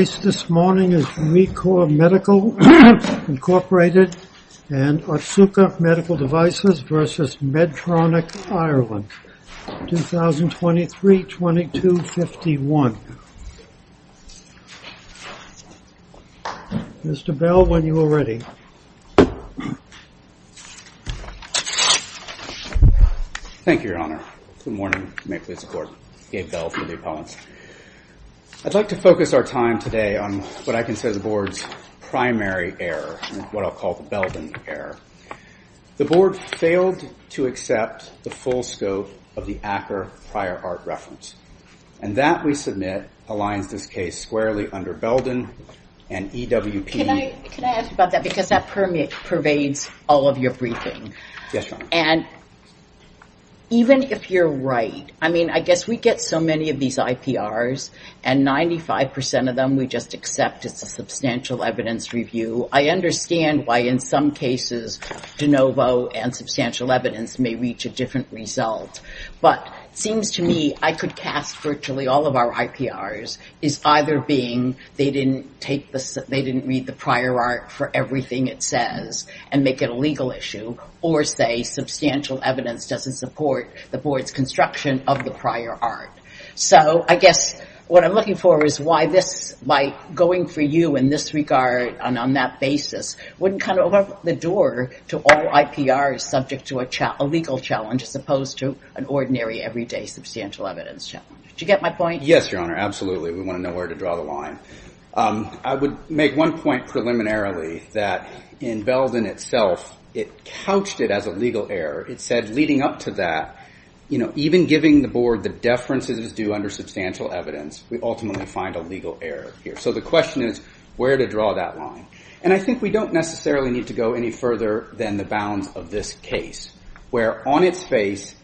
The case this morning is ReCor Medical, Inc. and Otsuka Medical Devices v. Medtronic Ireland, 2023-2251. Mr. Bell, when you are ready. Thank you, Your Honor. Good morning. May it please the Court. Gabe Bell for the appellants. I'd like to focus our time today on what I consider the Board's primary error, what I'll call the Belden error. The Board failed to accept the full scope of the Acker prior art reference. And that, we submit, aligns this case squarely under Belden and EWP. Can I ask about that? Because that pervades all of your briefing. Yes, Your Honor. And even if you're right, I mean, I guess we get so many of these IPRs and 95% of them we just accept as a substantial evidence review. I understand why in some cases de novo and substantial evidence may reach a different result. But it seems to me I could cast virtually all of our IPRs as either being they didn't read the prior art for everything it says and make it a legal issue or say substantial evidence doesn't support the Board's construction of the prior art. So I guess what I'm looking for is why this, by going for you in this regard and on that basis, wouldn't kind of open the door to all IPRs subject to a legal challenge as opposed to an ordinary everyday substantial evidence challenge. Do you get my point? Yes, Your Honor. Absolutely. We want to know where to draw the line. I would make one point preliminarily that in Belden itself, it couched it as a legal error. It said leading up to that, you know, even giving the Board the deferences due under substantial evidence, we ultimately find a legal error here. So the question is where to draw that line. And I think we don't necessarily need to go any further than the bounds of this case, where on its face,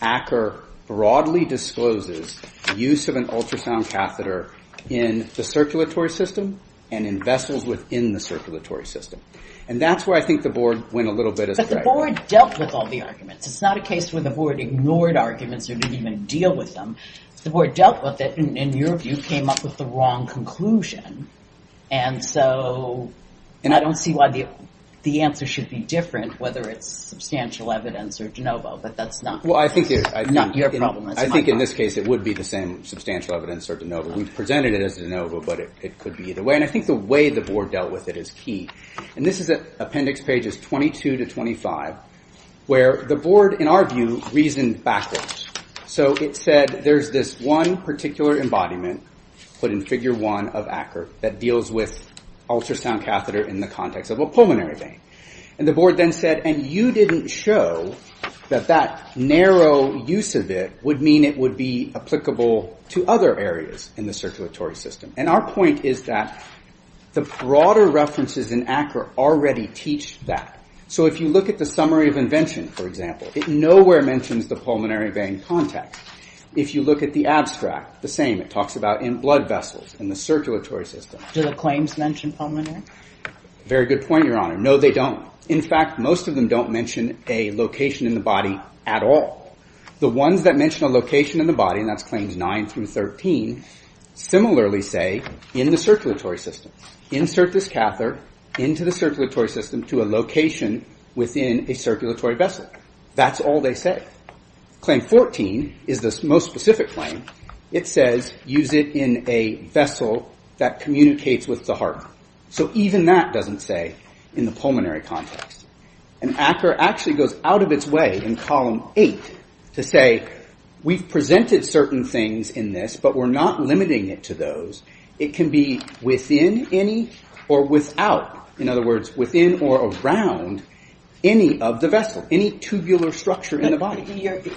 Acker broadly discloses use of an ultrasound catheter in the circulatory system and in vessels within the circulatory system. And that's where I think the Board went a little bit astray. But the Board dealt with all the arguments. It's not a case where the Board ignored arguments or didn't even deal with them. The Board dealt with it and, in your view, came up with the wrong conclusion. And so I don't see why the answer should be different, whether it's substantial evidence or de novo, but that's not your problem. I think in this case it would be the same, substantial evidence or de novo. We've presented it as de novo, but it could be either way. And I think the way the Board dealt with it is key. And this is at appendix pages 22 to 25, where the Board, in our view, reasoned backwards. So it said there's this one particular embodiment put in figure one of Acker that deals with ultrasound catheter in the context of a pulmonary vein. And the Board then said, and you didn't show that that narrow use of it would mean it would be applicable to other areas in the circulatory system. And our point is that the broader references in Acker already teach that. So if you look at the summary of invention, for example, it nowhere mentions the pulmonary vein context. If you look at the abstract, the same, it talks about blood vessels in the circulatory system. Do the claims mention pulmonary? Very good point, Your Honor. No, they don't. In fact, most of them don't mention a location in the body at all. The ones that mention a location in the body, and that's claims 9 through 13, similarly say in the circulatory system. Insert this catheter into the circulatory system to a location within a circulatory vessel. That's all they say. Claim 14 is the most specific claim. It says use it in a vessel that communicates with the heart. So even that doesn't say in the pulmonary context. And Acker actually goes out of its way in column 8 to say we've presented certain things in this, but we're not limiting it to those. It can be within any or without. In other words, within or around any of the vessel, any tubular structure in the body.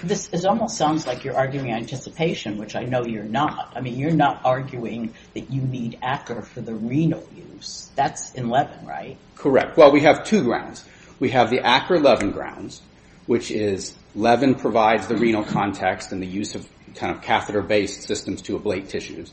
This almost sounds like you're arguing anticipation, which I know you're not. I mean, you're not arguing that you need Acker for the renal use. That's in Levin, right? Correct. Well, we have two grounds. We have the Acker-Levin grounds, which is Levin provides the renal context and the use of kind of catheter-based systems to ablate tissues.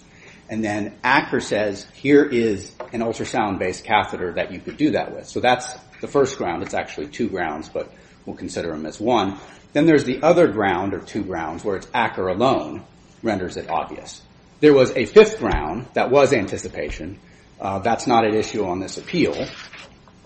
And then Acker says here is an ultrasound-based catheter that you could do that with. So that's the first ground. It's actually two grounds, but we'll consider them as one. Then there's the other ground or two grounds where it's Acker alone renders it obvious. There was a fifth ground that was anticipation. That's not an issue on this appeal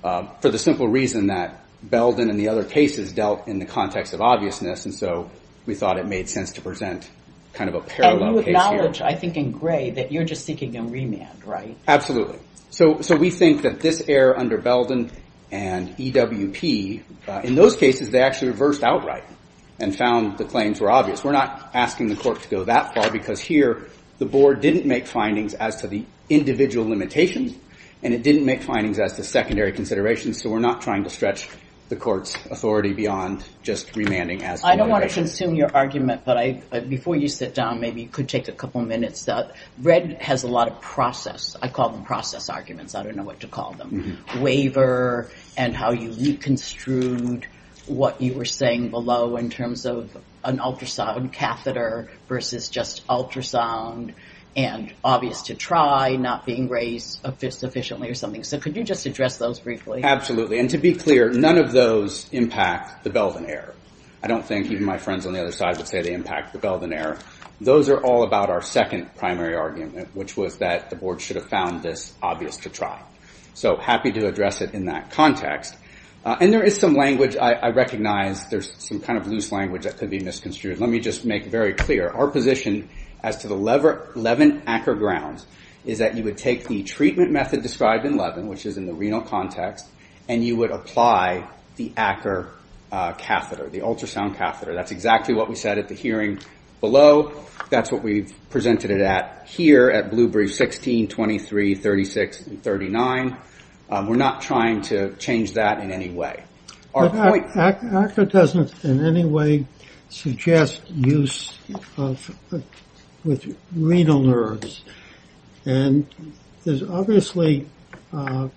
for the simple reason that Belden and the other cases dealt in the context of obviousness. And so we thought it made sense to present kind of a parallel case here. And I think in Gray that you're just seeking a remand, right? Absolutely. So we think that this error under Belden and EWP, in those cases, they actually reversed outright and found the claims were obvious. We're not asking the court to go that far because here the board didn't make findings as to the individual limitations, and it didn't make findings as to secondary considerations, so we're not trying to stretch the court's authority beyond just remanding. I don't want to consume your argument, but before you sit down, maybe you could take a couple minutes. Red has a lot of process. I call them process arguments. I don't know what to call them. Waiver and how you reconstrued what you were saying below in terms of an ultrasound catheter versus just ultrasound and obvious to try not being raised sufficiently or something. So could you just address those briefly? Absolutely. And to be clear, none of those impact the Belden error. I don't think even my friends on the other side would say they impact the Belden error. Those are all about our second primary argument, which was that the board should have found this obvious to try. So happy to address it in that context. And there is some language I recognize. There's some kind of loose language that could be misconstrued. Let me just make very clear. Our position as to the Levin-Acker grounds is that you would take the treatment method described in Levin, which is in the renal context, and you would apply the Acker catheter, the ultrasound catheter. That's exactly what we said at the hearing below. That's what we presented it at here at Blue Brief 16, 23, 36, and 39. We're not trying to change that in any way. Acker doesn't in any way suggest use with renal nerves. And there's obviously a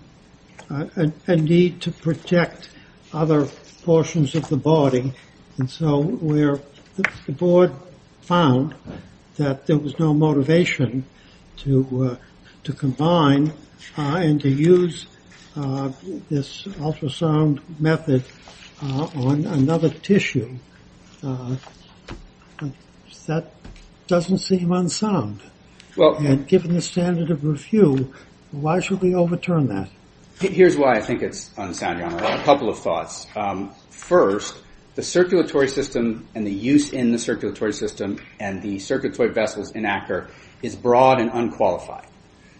need to protect other portions of the body. And so where the board found that there was no motivation to combine and to use this ultrasound method on another tissue, that doesn't seem unsound. And given the standard of review, why should we overturn that? Here's why I think it's unsound, Your Honor. A couple of thoughts. First, the circulatory system and the use in the circulatory system and the circulatory vessels in Acker is broad and unqualified.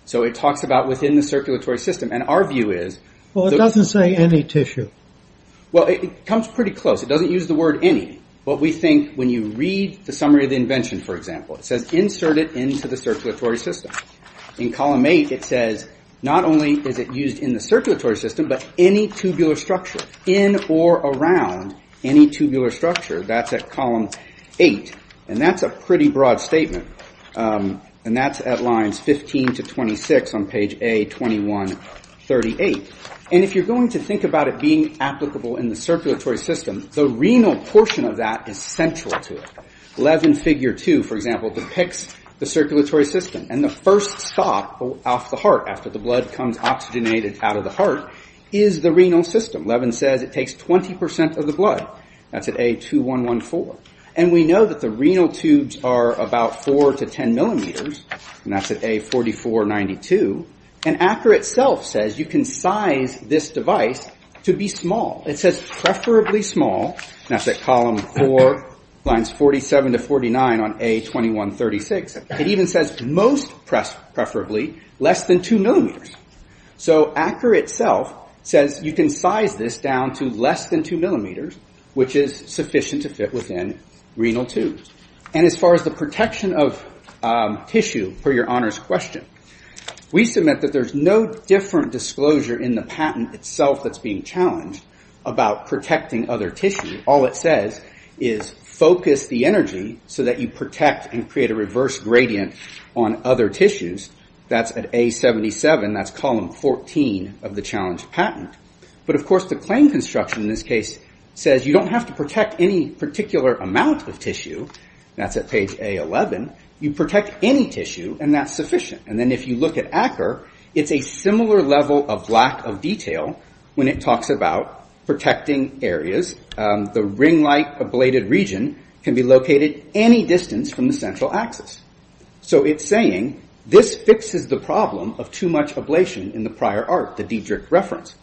So it talks about within the circulatory system. And our view is... Well, it doesn't say any tissue. Well, it comes pretty close. It doesn't use the word any. But we think when you read the summary of the invention, for example, it says insert it into the circulatory system. In column 8, it says not only is it used in the circulatory system, but any tubular structure in or around any tubular structure. That's at column 8. And that's a pretty broad statement. And that's at lines 15 to 26 on page A2138. And if you're going to think about it being applicable in the circulatory system, the renal portion of that is central to it. Levin figure 2, for example, depicts the circulatory system. And the first stop off the heart after the blood comes oxygenated out of the heart is the renal system. Levin says it takes 20% of the blood. That's at A2114. And we know that the renal tubes are about 4 to 10 millimeters. And that's at A4492. And Acker itself says you can size this device to be small. It says preferably small. And that's at column 4, lines 47 to 49 on A2136. It even says most preferably less than 2 millimeters. So Acker itself says you can size this down to less than 2 millimeters, which is sufficient to fit within renal tubes. And as far as the protection of tissue, per your Honor's question, we submit that there's no different disclosure in the patent itself that's being challenged about protecting other tissue. All it says is focus the energy so that you protect and create a reverse gradient on other tissues. That's at A77. That's column 14 of the challenge patent. But, of course, the claim construction in this case says you don't have to protect any particular amount of tissue. That's at page A11. You protect any tissue, and that's sufficient. And then if you look at Acker, it's a similar level of lack of detail when it talks about protecting areas. The ring-like ablated region can be located any distance from the central axis. So it's saying this fixes the problem of too much ablation in the prior art, the Diedrich reference.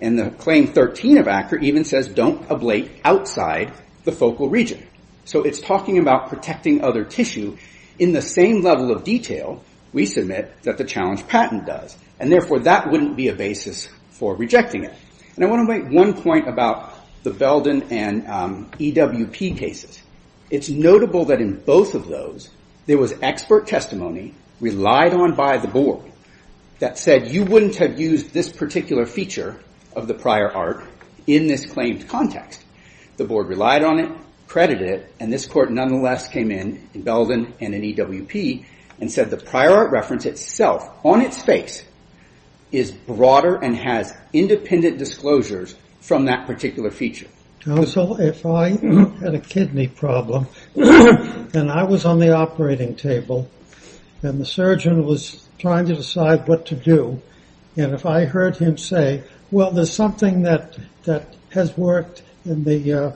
And the claim 13 of Acker even says don't ablate outside the focal region. So it's talking about protecting other tissue in the same level of detail, we submit, that the challenge patent does. And, therefore, that wouldn't be a basis for rejecting it. And I want to make one point about the Belden and EWP cases. It's notable that in both of those there was expert testimony relied on by the board that said you wouldn't have used this particular feature of the prior art in this claimed context. The board relied on it, credited it, and this court nonetheless came in in Belden and in EWP and said the prior art reference itself on its face is broader and has independent disclosures from that particular feature. So if I had a kidney problem and I was on the operating table and the surgeon was trying to decide what to do, and if I heard him say, well, there's something that has worked in the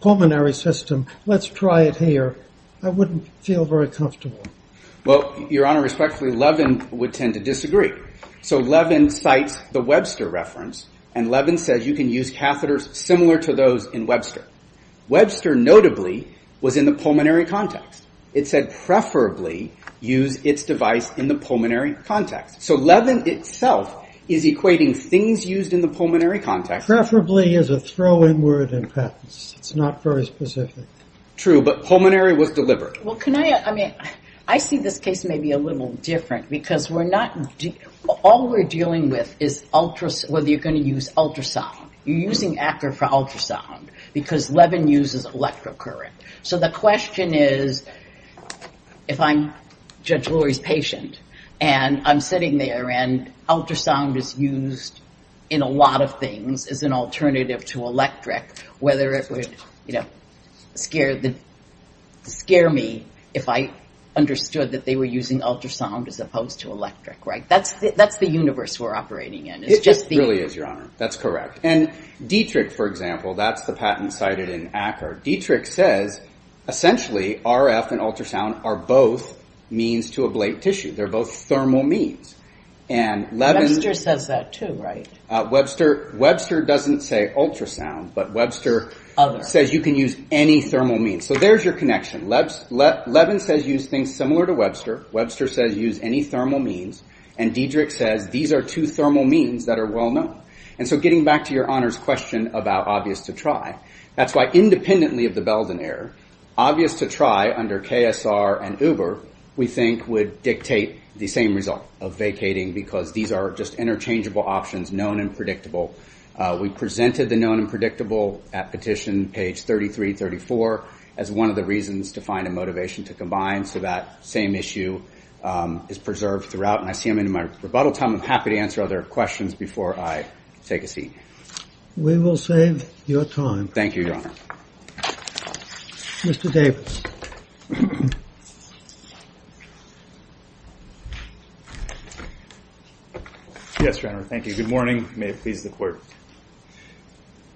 pulmonary system, let's try it here, I wouldn't feel very comfortable. Well, Your Honor, respectfully, Levin would tend to disagree. So Levin cites the Webster reference, and Levin says you can use catheters similar to those in Webster. Webster notably was in the pulmonary context. It said preferably use its device in the pulmonary context. So Levin itself is equating things used in the pulmonary context. Preferably is a throwing word in patents. It's not very specific. True, but pulmonary was deliberate. Well, I see this case maybe a little different because all we're dealing with is whether you're going to use ultrasound. You're using ACR for ultrasound because Levin uses electric current. So the question is, if I'm Judge Lurie's patient and I'm sitting there and ultrasound is used in a lot of things as an alternative to electric, whether it would scare me if I understood that they were using ultrasound as opposed to electric. That's the universe we're operating in. It really is, Your Honor. That's correct. And Dietrich, for example, that's the patent cited in ACR. Dietrich says essentially RF and ultrasound are both means to ablate tissue. They're both thermal means. Webster says that too, right? Webster doesn't say ultrasound, but Webster says you can use any thermal means. So there's your connection. Levin says use things similar to Webster. Webster says use any thermal means. And Dietrich says these are two thermal means that are well known. And so getting back to Your Honor's question about obvious to try, that's why independently of the Belden error, obvious to try under KSR and Uber, we think would dictate the same result of vacating because these are just interchangeable options, known and predictable. We presented the known and predictable at petition page 33-34 as one of the reasons to find a motivation to combine so that same issue is preserved throughout. And I see I'm in my rebuttal time. I'm happy to answer other questions before I take a seat. We will save your time. Thank you, Your Honor. Mr. Davis. Yes, Your Honor. Thank you. Good morning. May it please the Court.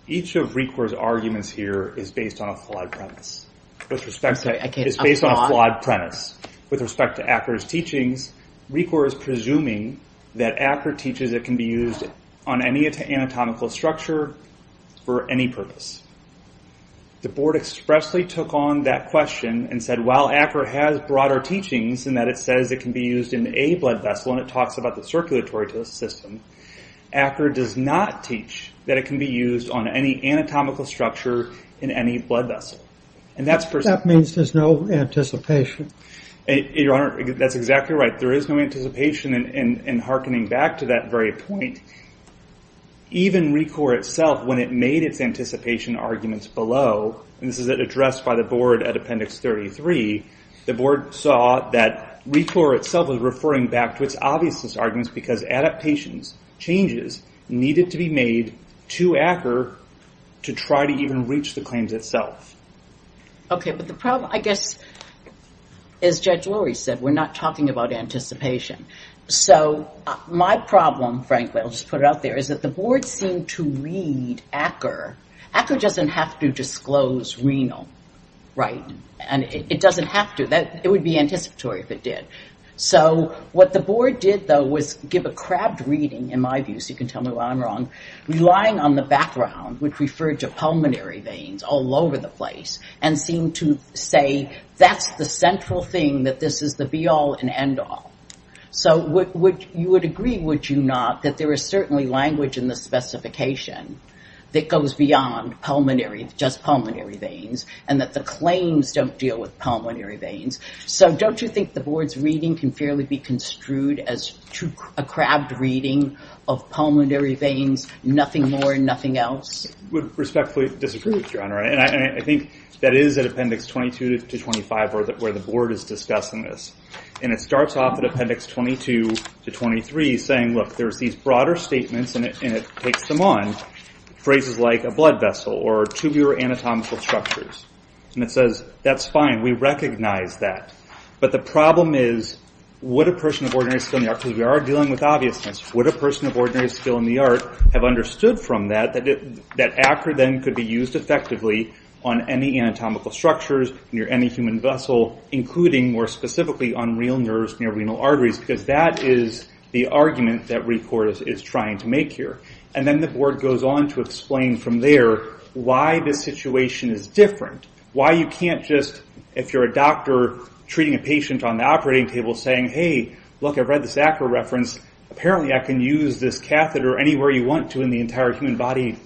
Each of RECOR's arguments here is based on a flawed premise. I'm sorry. It's based on a flawed premise. With respect to ACCR's teachings, RECOR is presuming that ACCR teaches it can be used on any anatomical structure for any purpose. The Board expressly took on that question and said while ACCR has broader teachings in that it says it can be used in a blood vessel and it talks about the circulatory system, ACCR does not teach that it can be used on any anatomical structure in any blood vessel. That means there's no anticipation. Your Honor, that's exactly right. There is no anticipation in hearkening back to that very point. Even RECOR itself, when it made its anticipation arguments below, and this is addressed by the Board at Appendix 33, the Board saw that RECOR itself was referring back to its obviousness arguments because adaptations, changes, needed to be made to ACCR to try to even reach the claims itself. Okay, but the problem, I guess, as Judge Lurie said, we're not talking about anticipation. So my problem, frankly, I'll just put it out there, is that the Board seemed to read ACCR. ACCR doesn't have to disclose renal, right? And it doesn't have to. It would be anticipatory if it did. So what the Board did, though, was give a crabbed reading, in my view, so you can tell me why I'm wrong, relying on the background, which referred to pulmonary veins all over the place, and seemed to say that's the central thing, that this is the be-all and end-all. So you would agree, would you not, that there is certainly language in the specification that goes beyond just pulmonary veins and that the claims don't deal with pulmonary veins. So don't you think the Board's reading can fairly be construed as a crabbed reading of pulmonary veins, nothing more, nothing else? I would respectfully disagree with you on that. And I think that is at Appendix 22 to 25 where the Board is discussing this. And it starts off at Appendix 22 to 23 saying, look, there's these broader statements, and it takes them on, phrases like a blood vessel or tubular anatomical structures. And it says, that's fine, we recognize that. But the problem is, would a person of ordinary skill in the art, because we are dealing with obviousness, would a person of ordinary skill in the art have understood from that that ACCR then could be used effectively on any anatomical structures near any human vessel, including, more specifically, on real nerves near renal arteries, because that is the argument that ReCortis is trying to make here. And then the Board goes on to explain from there why this situation is different. Why you can't just, if you're a doctor treating a patient on the operating table, saying, hey, look, I've read this ACCR reference, apparently I can use this catheter anywhere you want to in the entire human body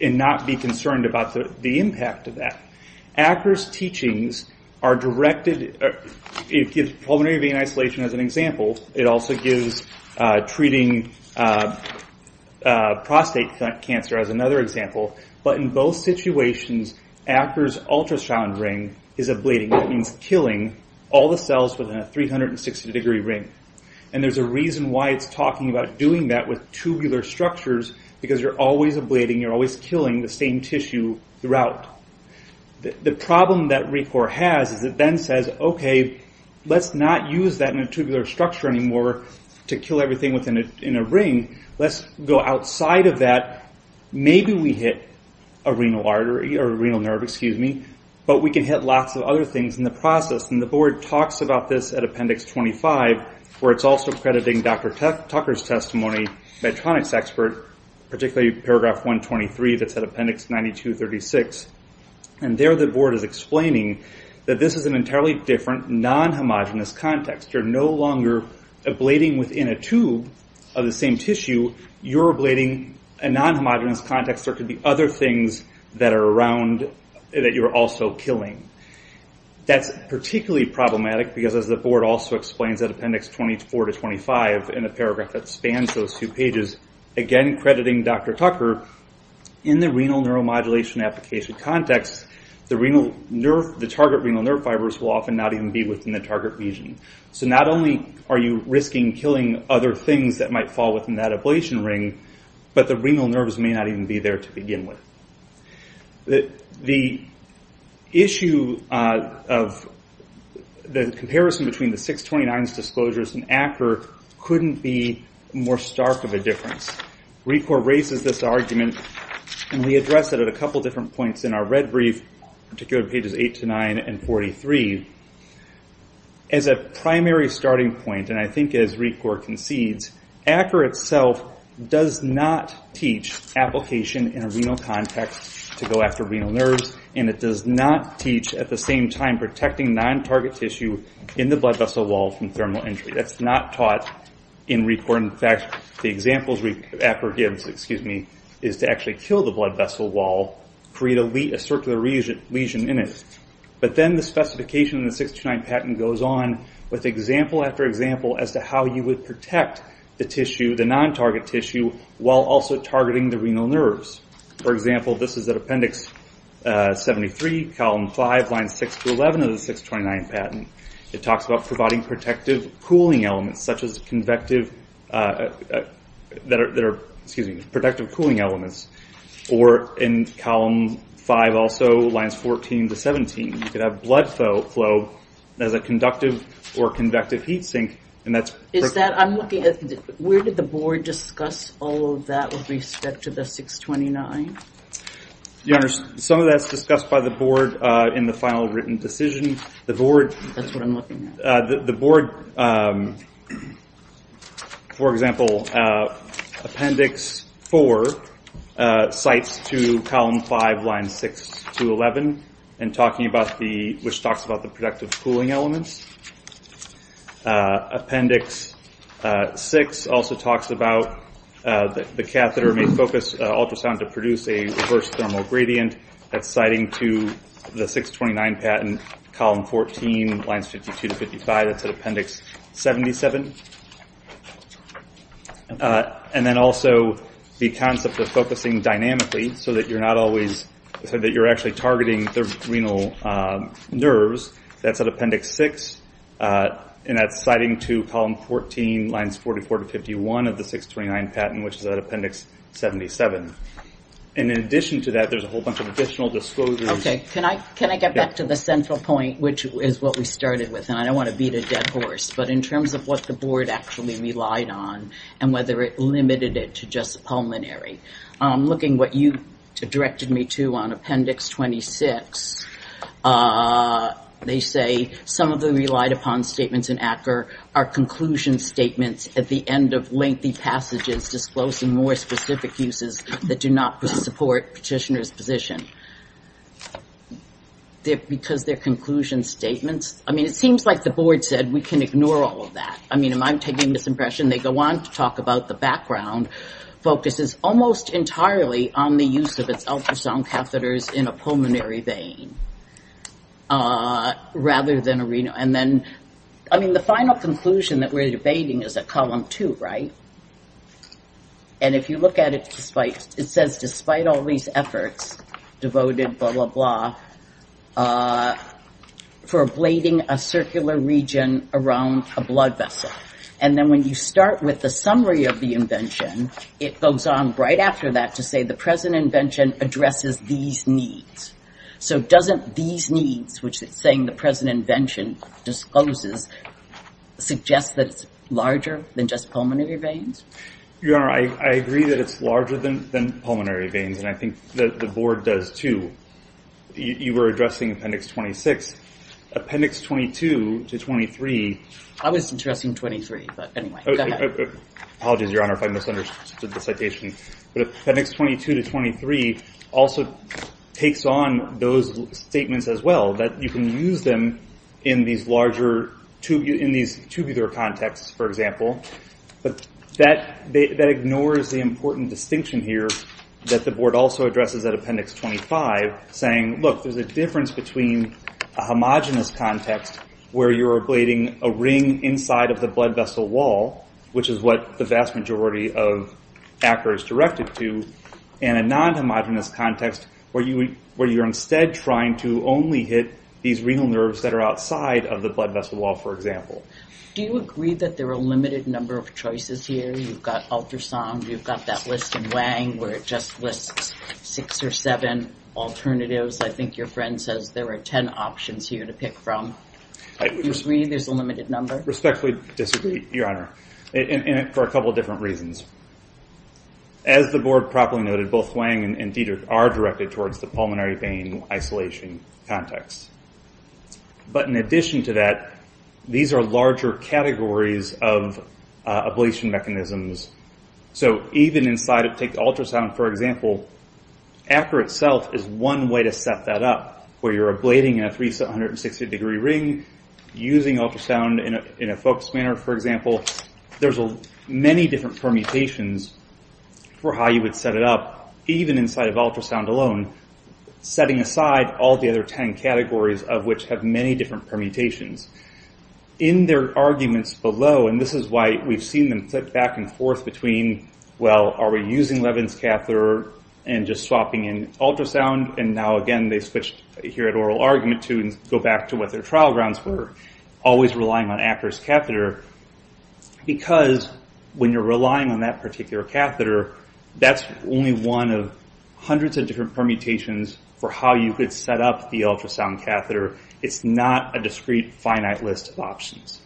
and not be concerned about the impact of that. ACCR's teachings are directed... It gives pulmonary vein isolation as an example. It also gives treating prostate cancer as another example. But in both situations, ACCR's ultrasound ring is ablating. That means killing all the cells within a 360-degree ring. And there's a reason why it's talking about doing that with tubular structures, because you're always ablating, you're always killing the same tissue throughout. The problem that ReCortis has is it then says, okay, let's not use that in a tubular structure anymore to kill everything within a ring. Let's go outside of that. Maybe we hit a renal artery or a renal nerve, excuse me, but we can hit lots of other things in the process. And the Board talks about this at Appendix 25, where it's also crediting Dr. Tucker's testimony, Medtronic's expert, particularly Paragraph 123 that's at Appendix 92-36. And there the Board is explaining that this is an entirely different non-homogenous context. You're no longer ablating within a tube of the same tissue. You're ablating a non-homogenous context. There could be other things that are around that you're also killing. That's particularly problematic because, as the Board also explains at Appendix 24-25, in a paragraph that spans those two pages, again crediting Dr. Tucker, in the renal neuromodulation application context, the target renal nerve fibers will often not even be within the target region. So not only are you risking killing other things that might fall within that ablation ring, but the renal nerves may not even be there to begin with. The issue of the comparison between the 629s disclosures and ACR couldn't be more stark of a difference. RECOR raises this argument, and we address it at a couple different points in our red brief, particularly pages 8-9 and 43. As a primary starting point, and I think as RECOR concedes, ACR itself does not teach application in a renal context to go after renal nerves, and it does not teach at the same time protecting non-target tissue in the blood vessel wall from thermal injury. That's not taught in RECOR. In fact, the examples ACR gives is to actually kill the blood vessel wall, create a circular lesion in it. But then the specification in the 629 patent goes on with example after example as to how you would protect the non-target tissue while also targeting the renal nerves. For example, this is at Appendix 73, Column 5, Lines 6-11 of the 629 patent. It talks about providing protective cooling elements such as convective that are protective cooling elements. Or in Column 5 also, Lines 14-17, you could have blood flow as a conductive or convective heat sink. Where did the board discuss all of that with respect to the 629? Your Honor, some of that is discussed by the board in the final written decision. That's what I'm looking at. The board, for example, Appendix 4 cites to Column 5, Lines 6-11, which talks about the protective cooling elements. Appendix 6 also talks about the catheter may focus ultrasound to produce a reverse thermal gradient. That's citing to the 629 patent, Column 14, Lines 52-55. That's at Appendix 77. And then also the concept of focusing dynamically so that you're actually targeting the renal nerves. That's at Appendix 6. And that's citing to Column 14, Lines 44-51 of the 629 patent, which is at Appendix 77. And in addition to that, there's a whole bunch of additional disclosures. Can I get back to the central point, which is what we started with? And I don't want to beat a dead horse, but in terms of what the board actually relied on and whether it limited it to just pulmonary. Looking at what you directed me to on Appendix 26, they say some of the relied upon statements in ACCR are conclusion statements at the end of lengthy passages disclosing more specific uses that do not support petitioner's position. Because they're conclusion statements. I mean, it seems like the board said we can ignore all of that. I mean, am I taking this impression? They go on to talk about the background focuses almost entirely on the use of its ultrasound catheters in a pulmonary vein rather than a renal. I mean, the final conclusion that we're debating is at Column 2, right? And if you look at it, it says, despite all these efforts devoted, blah, blah, blah, for ablating a circular region around a blood vessel. And then when you start with the summary of the invention, it goes on right after that to say the present invention addresses these needs. So doesn't these needs, which it's saying the present invention discloses, suggest that it's larger than just pulmonary veins? Your Honor, I agree that it's larger than pulmonary veins, and I think the board does, too. You were addressing Appendix 26. Appendix 22 to 23. I was addressing 23, but anyway, go ahead. Apologies, Your Honor, if I misunderstood the citation. But Appendix 22 to 23 also takes on those statements as well, that you can use them in these larger, in these tubular contexts, for example. But that ignores the important distinction here that the board also addresses at Appendix 25, saying, look, there's a difference between a homogenous context where you're ablating a ring inside of the blood vessel wall, which is what the vast majority of ACRA is directed to, and a non-homogenous context where you're instead trying to only hit these renal nerves that are outside of the blood vessel wall, for example. Do you agree that there are a limited number of choices here? You've got ultrasound, you've got that list in Wang where it just lists six or seven alternatives. I think your friend says there are 10 options here to pick from. Do you agree there's a limited number? I respectfully disagree, Your Honor, for a couple of different reasons. As the board properly noted, both Wang and Dietrich are directed towards the pulmonary vein isolation context. But in addition to that, these are larger categories of ablation mechanisms. So even inside, take ultrasound for example, ACRA itself is one way to set that up, where you're ablating in a 360 degree ring, using ultrasound in a focused manner, for example. There's many different permutations for how you would set it up, even inside of ultrasound alone, setting aside all the other 10 categories, of which have many different permutations. In their arguments below, and this is why we've seen them flip back and forth between, well, are we using Levin's catheter and just swapping in ultrasound? And now again, they switched here at oral argument to go back to what their trial grounds were, always relying on ACRA's catheter, because when you're relying on that particular catheter, that's only one of hundreds of different permutations for how you could set up the ultrasound catheter. It's not a discrete, finite list of options.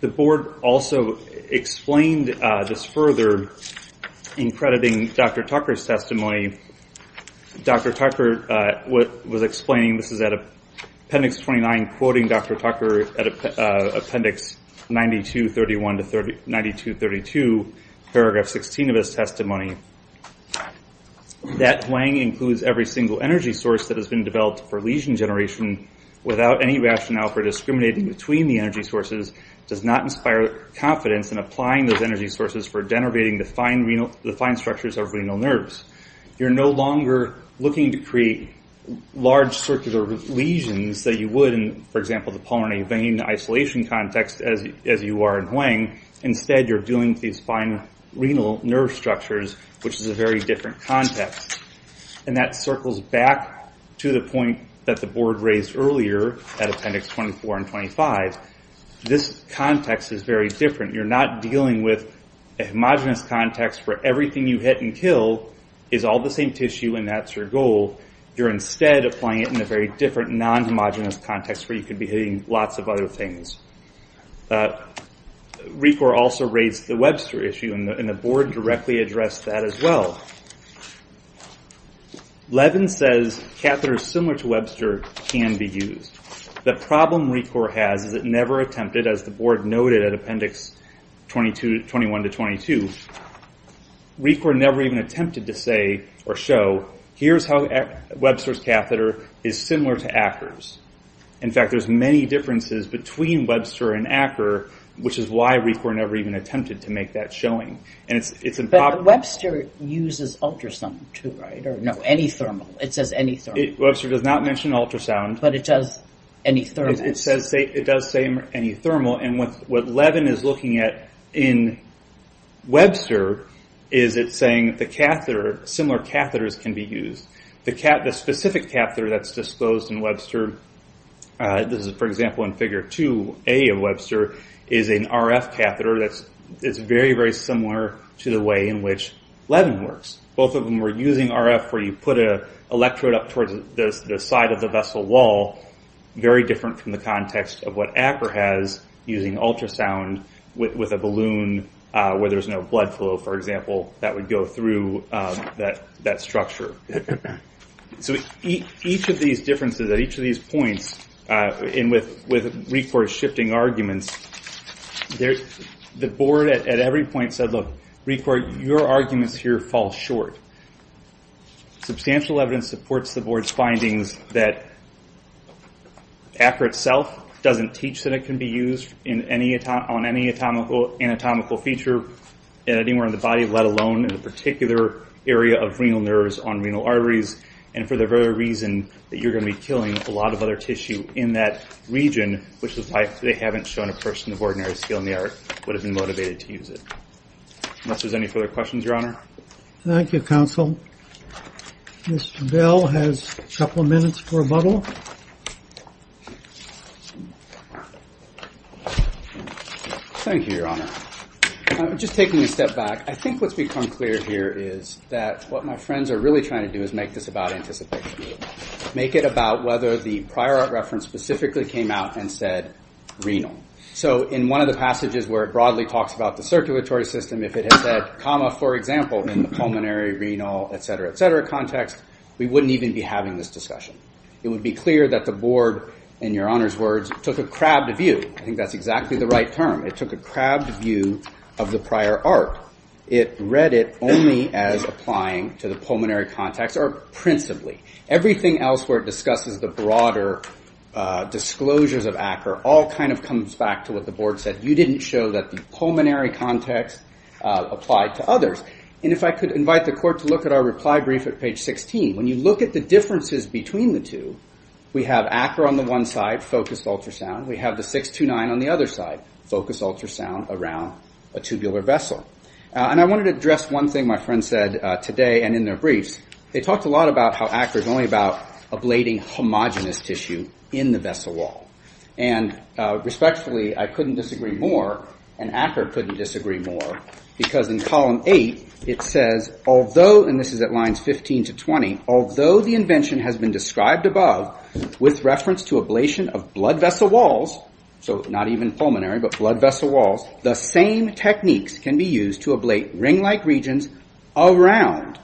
The board also explained this further in crediting Dr. Tucker's testimony. Dr. Tucker was explaining, this is at appendix 29, quoting Dr. Tucker at appendix 92-32, paragraph 16 of his testimony, that Huang includes every single energy source that has been developed for lesion generation without any rationale for discriminating between the energy sources, does not inspire confidence in applying those energy sources for denervating the fine structures of renal nerves. You're no longer looking to create large circular lesions that you would in, for example, the pulmonary vein isolation context as you are in Huang. Instead, you're dealing with these fine renal nerve structures, which is a very different context. And that circles back to the point that the board raised earlier at appendix 24 and 25. This context is very different. You're not dealing with a homogenous context where everything you hit and kill is all the same tissue and that's your goal. You're instead applying it in a very different non-homogenous context where you could be hitting lots of other things. RECOR also raised the Webster issue, and the board directly addressed that as well. Levin says, catheters similar to Webster can be used. The problem RECOR has is it never attempted, as the board noted at appendix 21-22, RECOR never even attempted to say or show, here's how Webster's catheter is similar to Acker's. In fact, there's many differences between Webster and Acker, which is why RECOR never even attempted to make that showing. But Webster uses ultrasound too, right? Or no, any thermal. It says any thermal. Webster does not mention ultrasound. But it does any thermal. It does say any thermal. What Levin is looking at in Webster is it's saying similar catheters can be used. The specific catheter that's disposed in Webster, this is for example in figure 2A of Webster, is an RF catheter that's very, very similar to the way in which Levin works. Both of them were using RF where you put an electrode up towards the side of the vessel wall, very different from the context of what Acker has in using ultrasound with a balloon where there's no blood flow, for example, that would go through that structure. So each of these differences, at each of these points, and with RECOR shifting arguments, the board at every point said, look, RECOR, your arguments here fall short. Substantial evidence supports the board's findings that Acker itself doesn't teach that it can be used on any anatomical feature anywhere in the body, let alone in a particular area of renal nerves on renal arteries, and for the very reason that you're going to be killing a lot of other tissue in that region, which is why they haven't shown a person of ordinary skill in the art would have been motivated to use it. Unless there's any further questions, Your Honor. Thank you, Counsel. Mr. Bell has a couple of minutes for a bubble. Thank you, Your Honor. Just taking a step back, I think what's become clear here is that what my friends are really trying to do is make this about anticipation. Make it about whether the prior art reference specifically came out and said renal. So in one of the passages where it broadly talks about the circulatory system, if it had said comma, for example, in the pulmonary, renal, et cetera, et cetera context, we wouldn't even be having this discussion. It would be clear that the board, in Your Honor's words, took a crabbed view. I think that's exactly the right term. It took a crabbed view of the prior art. It read it only as applying to the pulmonary context or principally. Everything else where it discusses the broader disclosures of Acker all kind of comes back to what the board said. You didn't show that the pulmonary context applied to others. And if I could invite the court to look at our reply brief at page 16. When you look at the differences between the two, we have Acker on the one side, focused ultrasound. 629 on the other side, focused ultrasound around a tubular vessel. And I wanted to address one thing my friend said today and in their briefs. They talked a lot about how Acker is only about ablating homogenous tissue in the vessel wall. And respectfully, I couldn't disagree more, and Acker couldn't disagree more, because in column eight, it says, although, and this is at lines 15 to 20, although the invention has been described above with reference to ablation of blood vessel walls, so not even pulmonary, but blood vessel walls, the same techniques can be used to ablate ring-like regions around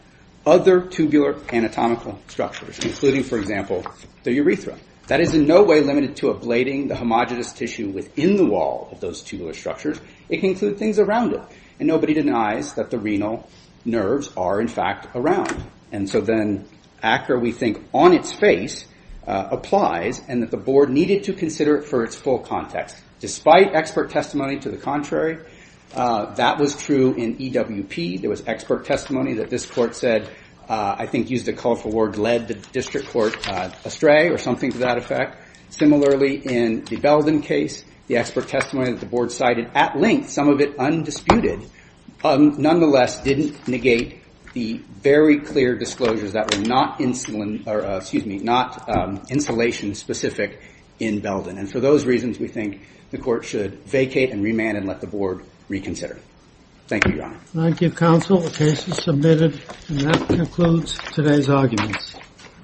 other tubular anatomical structures, including, for example, the urethra. That is in no way limited to ablating the homogenous tissue within the wall of those tubular structures. It can include things around it. And nobody denies that the renal nerves are, in fact, around. And so then, Acker, we think, on its face, applies, and that the board needed to consider it for its full context. Despite expert testimony to the contrary, that was true in EWP. There was expert testimony that this court said, I think used a colorful word, led the district court astray, or something to that effect. Similarly, in the Belden case, the expert testimony that the board cited at length, some of it undisputed, nonetheless didn't negate the very clear disclosures that were not insulation-specific in Belden. Those are the reasons we think the court should vacate and remand and let the board reconsider. Thank you, Your Honor. Thank you, Counsel. The case is submitted, and that concludes today's arguments.